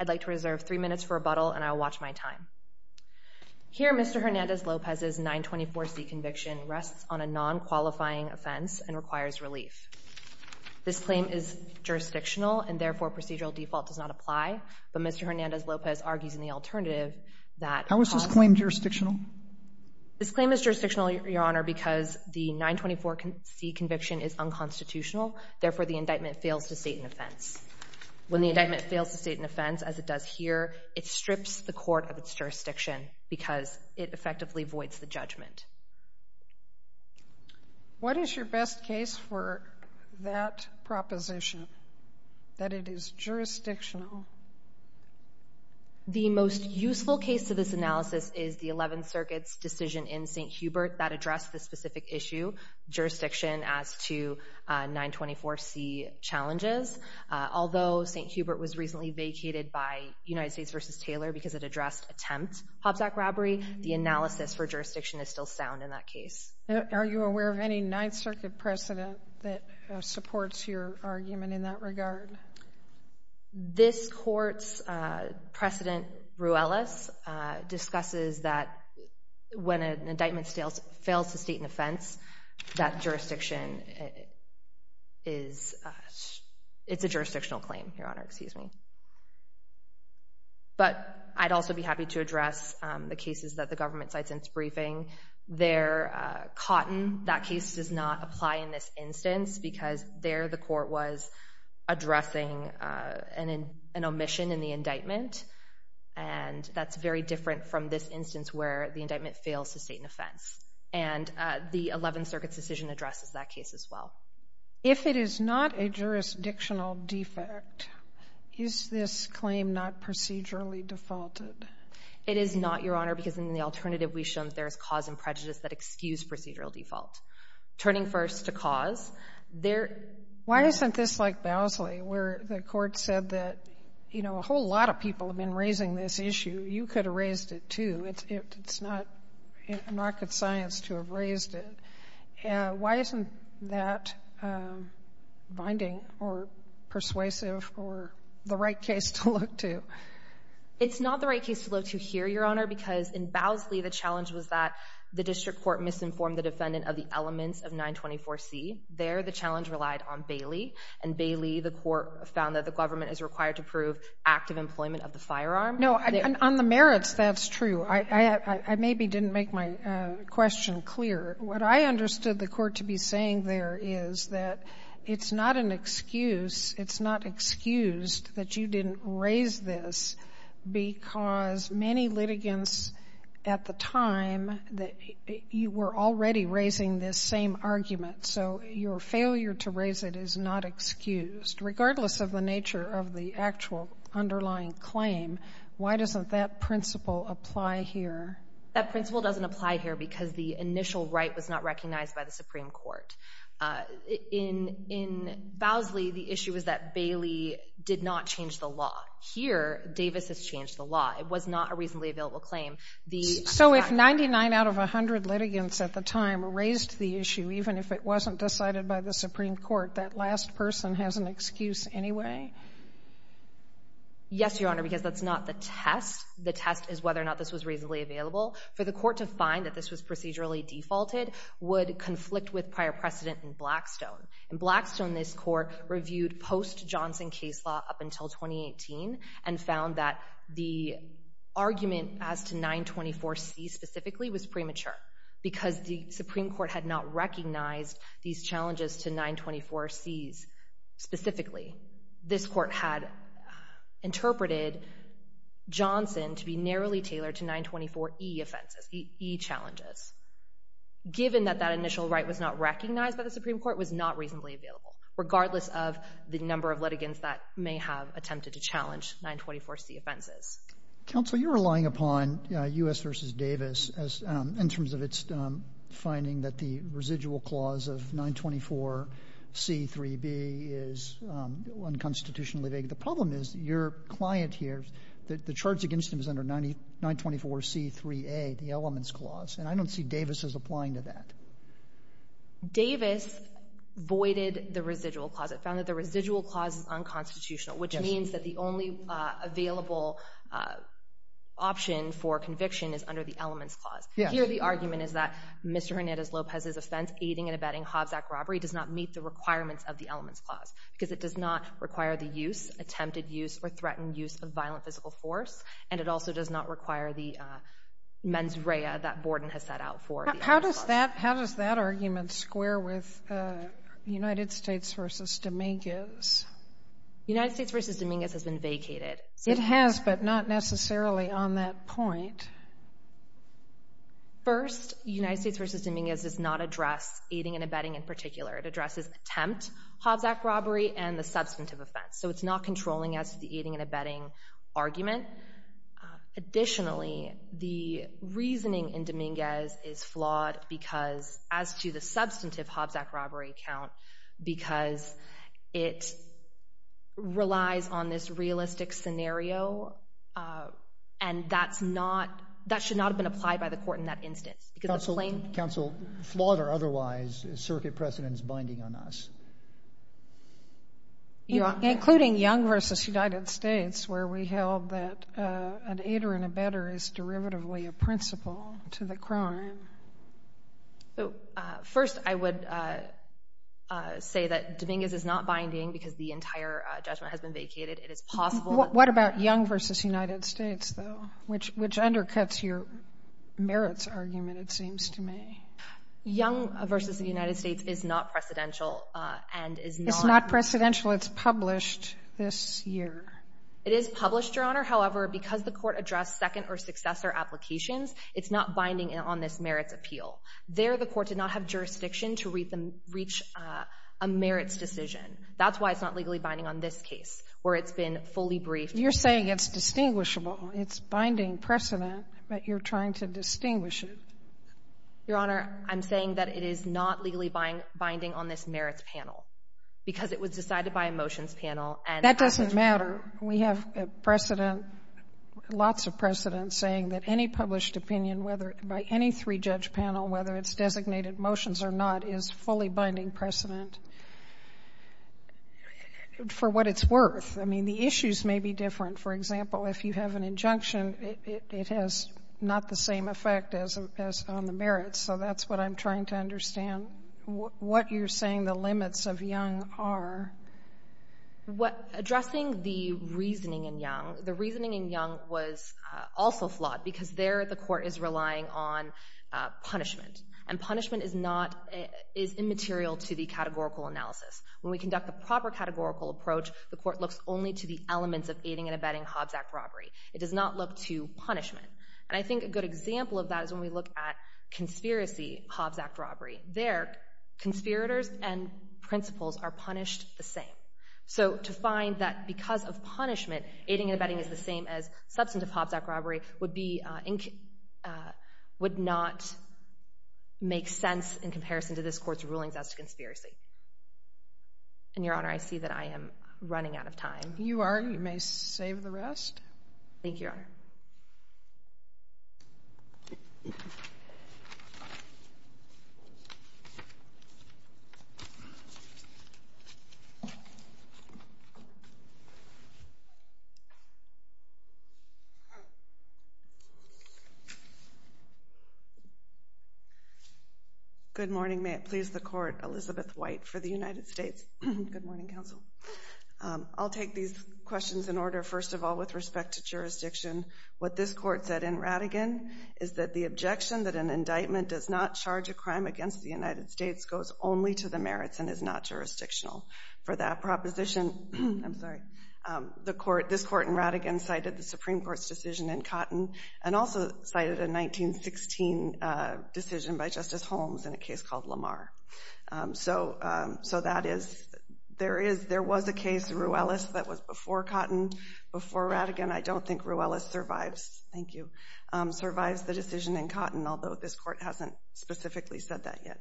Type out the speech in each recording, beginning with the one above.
I'd like to reserve three minutes for rebuttal and I'll watch my time. Here Mr. Hernandez-Lopez's 924C conviction rests on a non-qualifying offense and requires relief. This claim is jurisdictional and therefore procedural default does not apply, but Mr. How is this claim jurisdictional? This claim is jurisdictional, Your Honor, because the 924C conviction is unconstitutional, therefore the indictment fails to state an offense. When the indictment fails to state an offense, as it does here, it strips the court of its jurisdiction because it effectively voids the judgment. What is your best case for that proposition, that it is jurisdictional? The most useful case to this analysis is the 11th Circuit's decision in St. Hubert that addressed the specific issue, jurisdiction, as to 924C challenges. Although St. Hubert was recently vacated by United States v. Taylor because it addressed attempt Hobbs Act robbery, the analysis for jurisdiction is still sound in that case. Are you aware of any 9th Circuit precedent that supports your argument in that regard? This court's precedent, Ruelas, discusses that when an indictment fails to state an offense, that jurisdiction is, it's a jurisdictional claim, Your Honor, excuse me. But I'd also be happy to address the cases that the government cites in its briefing. There, Cotton, that case does not apply in this instance because there the court was addressing an omission in the indictment. And that's very different from this instance where the indictment fails to state an offense. And the 11th Circuit's decision addresses that case as well. If it is not a jurisdictional defect, is this claim not procedurally defaulted? It is not, Your Honor, because in the alternative, we've shown that there is cause and prejudice that excuse procedural default. Turning first to cause, there Why isn't this like Bowsley, where the court said that, you know, a whole lot of people have been raising this issue. You could have raised it, too. It's not rocket science to have raised it. Why isn't that binding or persuasive or the right case to look to? It's not the right case to look to here, Your Honor, because in Bowsley, the challenge was that the district court misinformed the defendant of the elements of 924C. There, the challenge relied on Bailey. And Bailey, the court found that the government is required to prove active employment of the firearm. No, on the merits, that's true. I maybe didn't make my question clear. What I understood the court to be saying there is that it's not an excuse. It's excused that you didn't raise this because many litigants at the time, you were already raising this same argument. So your failure to raise it is not excused, regardless of the nature of the actual underlying claim. Why doesn't that principle apply here? That principle doesn't apply here because the initial right was not recognized by the Supreme Court. In Bowsley, the issue was that Bailey did not change the law. Here, Davis has changed the law. It was not a reasonably available claim. So if 99 out of 100 litigants at the time raised the issue, even if it wasn't decided by the Supreme Court, that last person has an excuse anyway? Yes, Your Honor, because that's not the test. The test is whether or not this was reasonably available. For the court to find that this was procedurally defaulted would conflict with prior precedent In Blackstone, this court reviewed post-Johnson case law up until 2018 and found that the argument as to 924C specifically was premature because the Supreme Court had not recognized these challenges to 924Cs specifically. This court had interpreted Johnson to be narrowly tailored to 924E offenses, E challenges. Given that that initial right was not recognized by the Supreme Court, it was not reasonably available, regardless of the number of litigants that may have attempted to challenge 924C offenses. Counsel, you're relying upon U.S. v. Davis in terms of its finding that the residual clause of 924C3B is unconstitutionally vague. The problem is your client here, the charge against him is under 924C3A, the elements clause, and I don't see Davis' applying to that. Davis voided the residual clause. It found that the residual clause is unconstitutional, which means that the only available option for conviction is under the elements clause. Here, the argument is that Mr. Hernandez-Lopez's offense, aiding and abetting Hobbs Act robbery, does not meet the requirements of the elements clause because it does not require the use, attempted use, or threatened use of violent physical force, and it also does not require the mens rea that Borden has set out for the elements clause. How does that argument square with United States v. Dominguez? United States v. Dominguez has been vacated. It has, but not necessarily on that point. First, United States v. Dominguez does not address aiding and abetting in particular. It addresses attempt Hobbs Act robbery and the substantive offense, so it's not controlling as to the aiding and abetting argument. Additionally, the reasoning in Dominguez is flawed because, as to the substantive Hobbs Act robbery count, because it relies on this realistic scenario, and that's not, that should not have been applied by the court in that instance. Counsel, flawed or otherwise, is circuit precedence binding on us? Including Young v. United States, where we held that an aider and abetter is derivatively a principle to the crime. First, I would say that Dominguez is not binding because the entire judgment has been vacated. It is possible that the — What about Young v. United States, though, which undercuts your merits argument, it seems to me? Young v. United States is not precedential and is not — It's not precedential. It's published this year. It is published, Your Honor. However, because the court addressed second or successor applications, it's not binding on this merits appeal. There, the court did not have jurisdiction to reach a merits decision. That's why it's not legally binding on this case, where it's been fully briefed. You're saying it's distinguishable. It's binding precedent, but you're trying to distinguish it. Your Honor, I'm saying that it is not legally binding on this merits panel because it was decided by a motions panel and — That doesn't matter. We have precedent, lots of precedent, saying that any published opinion, whether — by any three-judge panel, whether it's designated motions or not, is fully binding precedent for what it's worth. I mean, the issues may be different. For example, if you have an injunction, it has not the same effect as on the merits. So that's what I'm trying to understand. What you're saying the limits of Young are — Addressing the reasoning in Young, the reasoning in Young was also flawed because there the court is relying on punishment, and punishment is not — is immaterial to the categorical analysis. When we conduct a proper categorical approach, the court looks only to the elements of aiding and abetting Hobbs Act robbery. It does not look to punishment. And I think a good example of that is when we look at conspiracy Hobbs Act robbery. There, conspirators and principals are punished the same. So to find that because of punishment, aiding and abetting is the same as substantive Hobbs Act robbery would be — would not make sense in comparison to this Court's rulings as to conspiracy. And, Your Honor, I see that I am running out of time. You are. You may save the rest. Thank you, Your Honor. Thank you. Good morning. May it please the Court. Elizabeth White for the United States. Good morning, Counsel. I'll take these questions in order. First of all, with respect to jurisdiction, what this Court said in Rattigan is that the United States goes only to the merits and is not jurisdictional. For that proposition, I'm sorry, this Court in Rattigan cited the Supreme Court's decision in Cotton and also cited a 1916 decision by Justice Holmes in a case called Lamar. So that is — there was a case, Ruelas, that was before Cotton, before Rattigan. I don't think Ruelas survives — thank you — survives the decision in Cotton, although this Court hasn't specifically said that yet.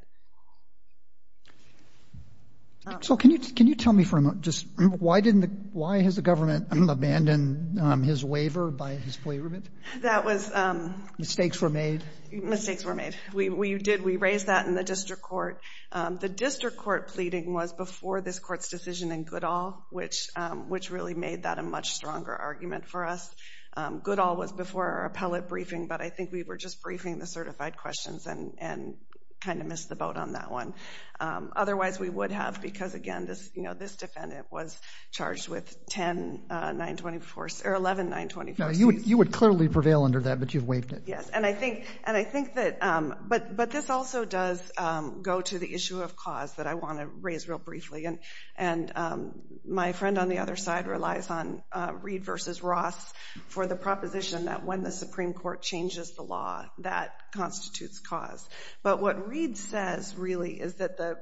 So can you tell me for a moment just why didn't — why has the government abandoned his waiver by his plea remit? That was — Mistakes were made? Mistakes were made. We did — we raised that in the District Court. The District Court pleading was before this Court's decision in Goodall, which really made that a much stronger argument for us. Goodall was before our appellate briefing, but I think we were just briefing the certified questions and kind of missed the boat on that one. Otherwise, we would have, because again, this — you know, this defendant was charged with 10-924 — or 11-924 seats. You would clearly prevail under that, but you've waived it. Yes. And I think — and I think that — but this also does go to the issue of cause that I want to raise real briefly. And my friend on the other side relies on Reid v. Ross for the proposition that when the Supreme Court changes the law, that constitutes cause. But what Reid says, really, is that the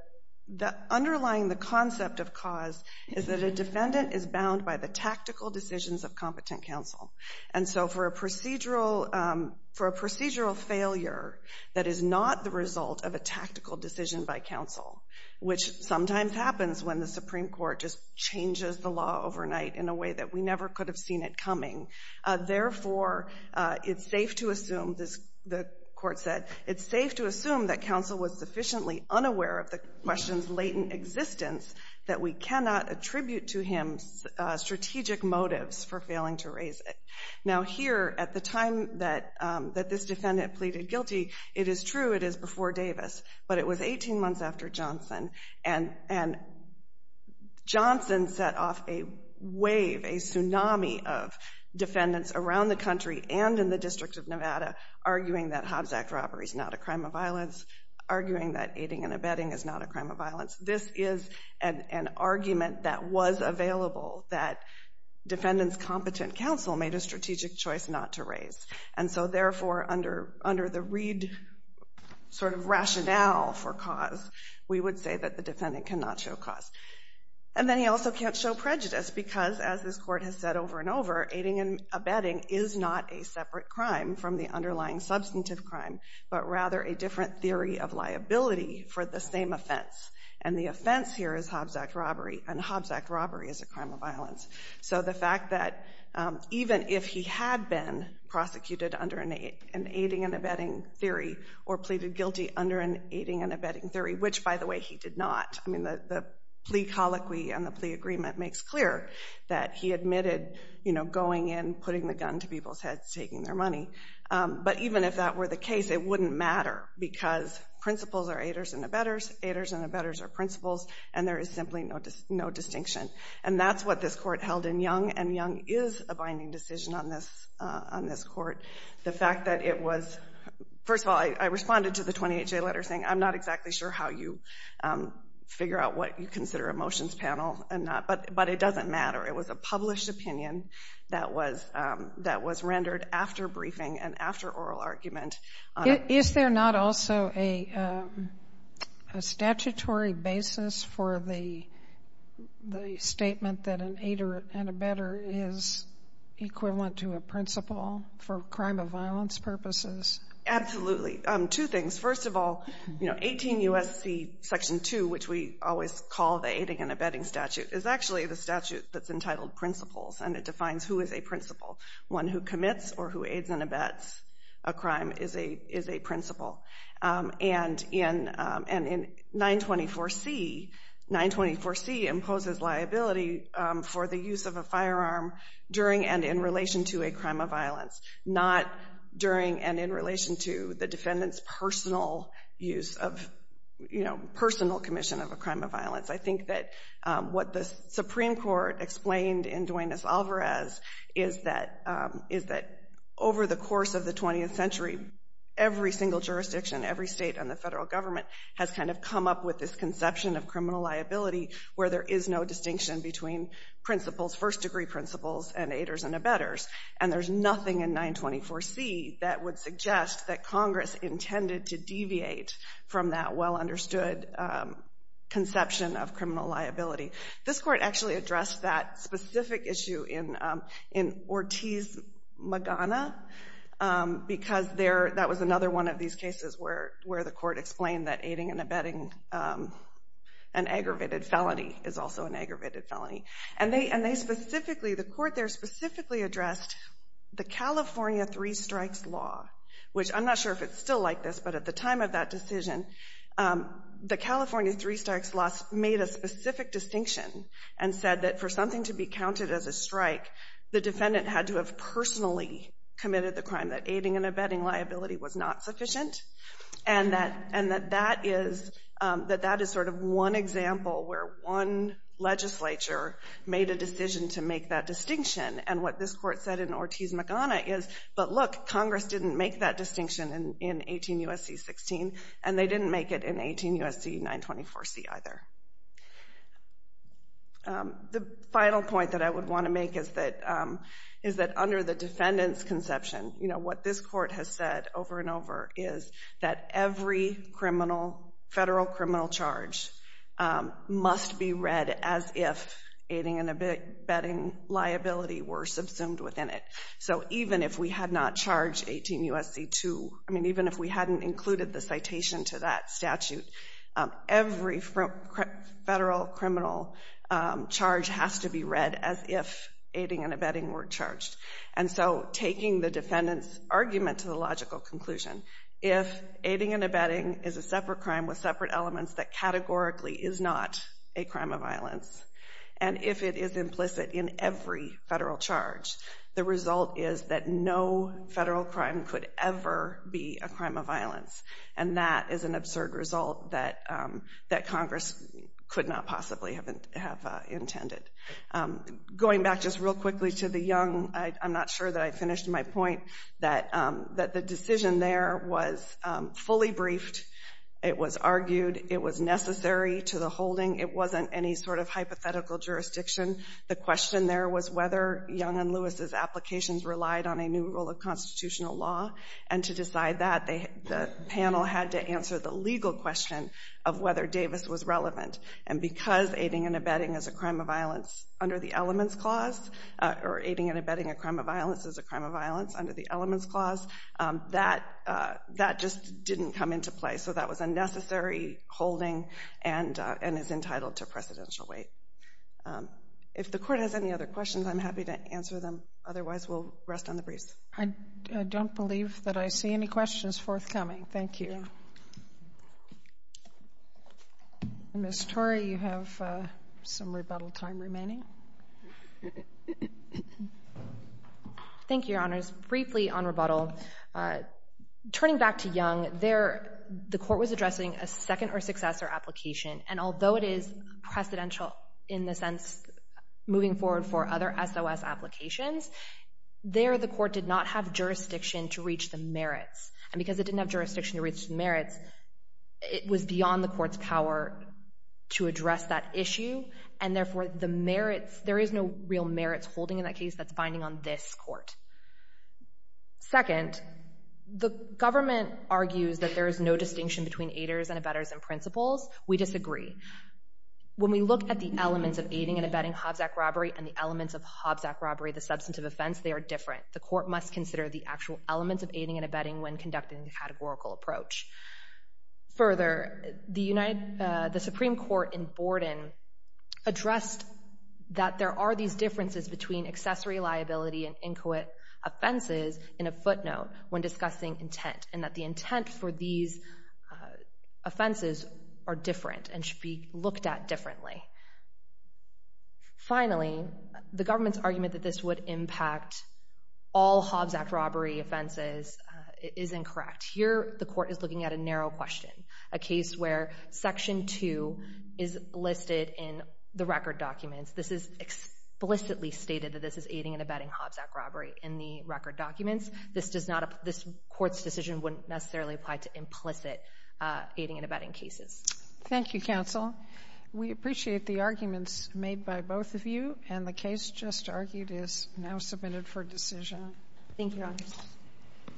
— underlying the concept of cause is that a defendant is bound by the tactical decisions of competent counsel. And so for a procedural — for a procedural failure that is not the result of a tactical decision by counsel, which sometimes happens when the Supreme Court just changes the law overnight in a way that we never could have seen it coming, therefore, it's safe to assume — the court said — it's safe to assume that counsel was sufficiently unaware of the question's latent existence that we cannot attribute to him strategic motives for failing to raise it. Now here, at the time that this defendant pleaded guilty, it is true it is before Davis, but it was 18 months after Johnson, and Johnson set off a wave, a tsunami of defendants around the country and in the District of Nevada arguing that Hobbs Act robbery is not a crime of violence, arguing that aiding and abetting is not a crime of violence. This is an argument that was available, that defendants' competent counsel made a strategic choice not to raise. And so therefore, under the Reid sort of rationale for cause, we would say that the defendant cannot show cause. And then he also can't show prejudice because, as this court has said over and over, aiding and abetting is not a separate crime from the underlying substantive crime, but rather a different theory of liability for the same offense. And the offense here is Hobbs Act robbery, and Hobbs Act robbery is a crime of violence. So the fact that even if he had been prosecuted under an aiding and abetting theory or pleaded guilty under an aiding and abetting theory, which, by the way, he did not, I mean, the plea colloquy and the plea agreement makes clear that he admitted, you know, going in, putting the gun to people's heads, taking their money. But even if that were the case, it wouldn't matter because principals are aiders and abetters. Aiders and abetters are principals, and there is simply no distinction. And that's what this court held in Young, and Young is a binding decision on this court. The fact that it was, first of all, I responded to the 28-J letter saying, I'm not exactly sure how you figure out what you consider a motions panel and not, but it doesn't matter. It was a published opinion that was rendered after briefing and after oral argument. Is there not also a statutory basis for the statement that an aider and abetter is equivalent to a principal for crime of violence purposes? Absolutely. Two things. First of all, you know, 18 U.S.C. Section 2, which we always call the aiding and abetting statute, is actually the statute that's entitled principles, and it defines who is a principal. One who commits or who aids and abets a crime is a principal. And in 924C, 924C imposes liability for the use of a firearm during and in relation to a crime of violence, not during and in relation to the defendant's personal use of, you know, personal commission of a crime of violence. I think that what the Supreme Court explained in Duenas-Alvarez is that over the course of the 20th century, every single jurisdiction, every state and the federal government has kind of come up with this conception of criminal liability where there is no distinction between principles, first-degree principles, and aiders and abetters. And there's nothing in 924C that would suggest that Congress intended to deviate from that well-understood conception of criminal liability. This court actually addressed that specific issue in Ortiz-Magana, because that was another one of these cases where the court explained that aiding and abetting an aggravated felony is also an aggravated felony. And they specifically, the court there specifically addressed the California three strikes law, which I'm not sure if it's still like this, but at the time of that decision, the California three strikes law made a specific distinction and said that for something to be counted as a strike, the defendant had to have personally committed the crime, that aiding and abetting liability was not sufficient, and that, and that that is, that that is sort of one example where one legislature made a decision to make that distinction. And what this court said in Ortiz-Magana is, but look, Congress didn't make that and they didn't make it in 18 U.S.C. 924C either. The final point that I would want to make is that, is that under the defendant's conception, you know, what this court has said over and over is that every criminal, federal criminal charge must be read as if aiding and abetting liability were subsumed within it. So even if we had not charged 18 U.S.C. 2, I mean, even if we hadn't included the citation to that statute, every federal criminal charge has to be read as if aiding and abetting were charged. And so taking the defendant's argument to the logical conclusion, if aiding and abetting is a separate crime with separate elements that categorically is not a crime of violence, and if it is implicit in every federal charge, the result is that no federal crime could ever be a crime of violence. And that is an absurd result that that Congress could not possibly have intended. Going back just real quickly to the Young, I'm not sure that I finished my point, that the decision there was fully briefed. It was argued. It was necessary to the holding. It wasn't any sort of hypothetical jurisdiction. The question there was whether Young and Lewis's applications relied on a new rule of constitutional law. And to decide that, the panel had to answer the legal question of whether Davis was relevant. And because aiding and abetting is a crime of violence under the Elements Clause, or aiding and abetting a crime of violence is a crime of violence under the Elements Clause, that just didn't come into play. So that was a necessary holding and is entitled to precedential weight. If the Court has any other questions, I'm happy to answer them. Otherwise, we'll rest on the briefs. I don't believe that I see any questions forthcoming. Thank you. Ms. Torrey, you have some rebuttal time remaining. Thank you, Your Honors. Just briefly on rebuttal, turning back to Young, there, the Court was addressing a second or successor application. And although it is precedential in the sense moving forward for other SOS applications, there the Court did not have jurisdiction to reach the merits. And because it didn't have jurisdiction to reach the merits, it was beyond the Court's power to address that issue. And therefore, the merits, there is no real merits holding in that case that's binding on this Court. Second, the government argues that there is no distinction between aiders and abettors and principals. We disagree. When we look at the elements of aiding and abetting Hobbs Act robbery and the elements of Hobbs Act robbery, the substantive offense, they are different. The Court must consider the actual elements of aiding and abetting when conducting the categorical approach. Further, the Supreme Court in Borden addressed that there are these differences between accessory liability and inquit offenses in a footnote when discussing intent and that the intent for these offenses are different and should be looked at differently. Finally, the government's argument that this would impact all Hobbs Act robbery offenses is incorrect. Here, the Court is looking at a narrow question, a case where Section 2 is listed in the record documents. This is explicitly stated that this is aiding and abetting Hobbs Act robbery in the record documents. This Court's decision wouldn't necessarily apply to implicit aiding and abetting cases. Thank you, counsel. We appreciate the arguments made by both of you and the case just argued is now submitted for decision. Thank you, Your Honor.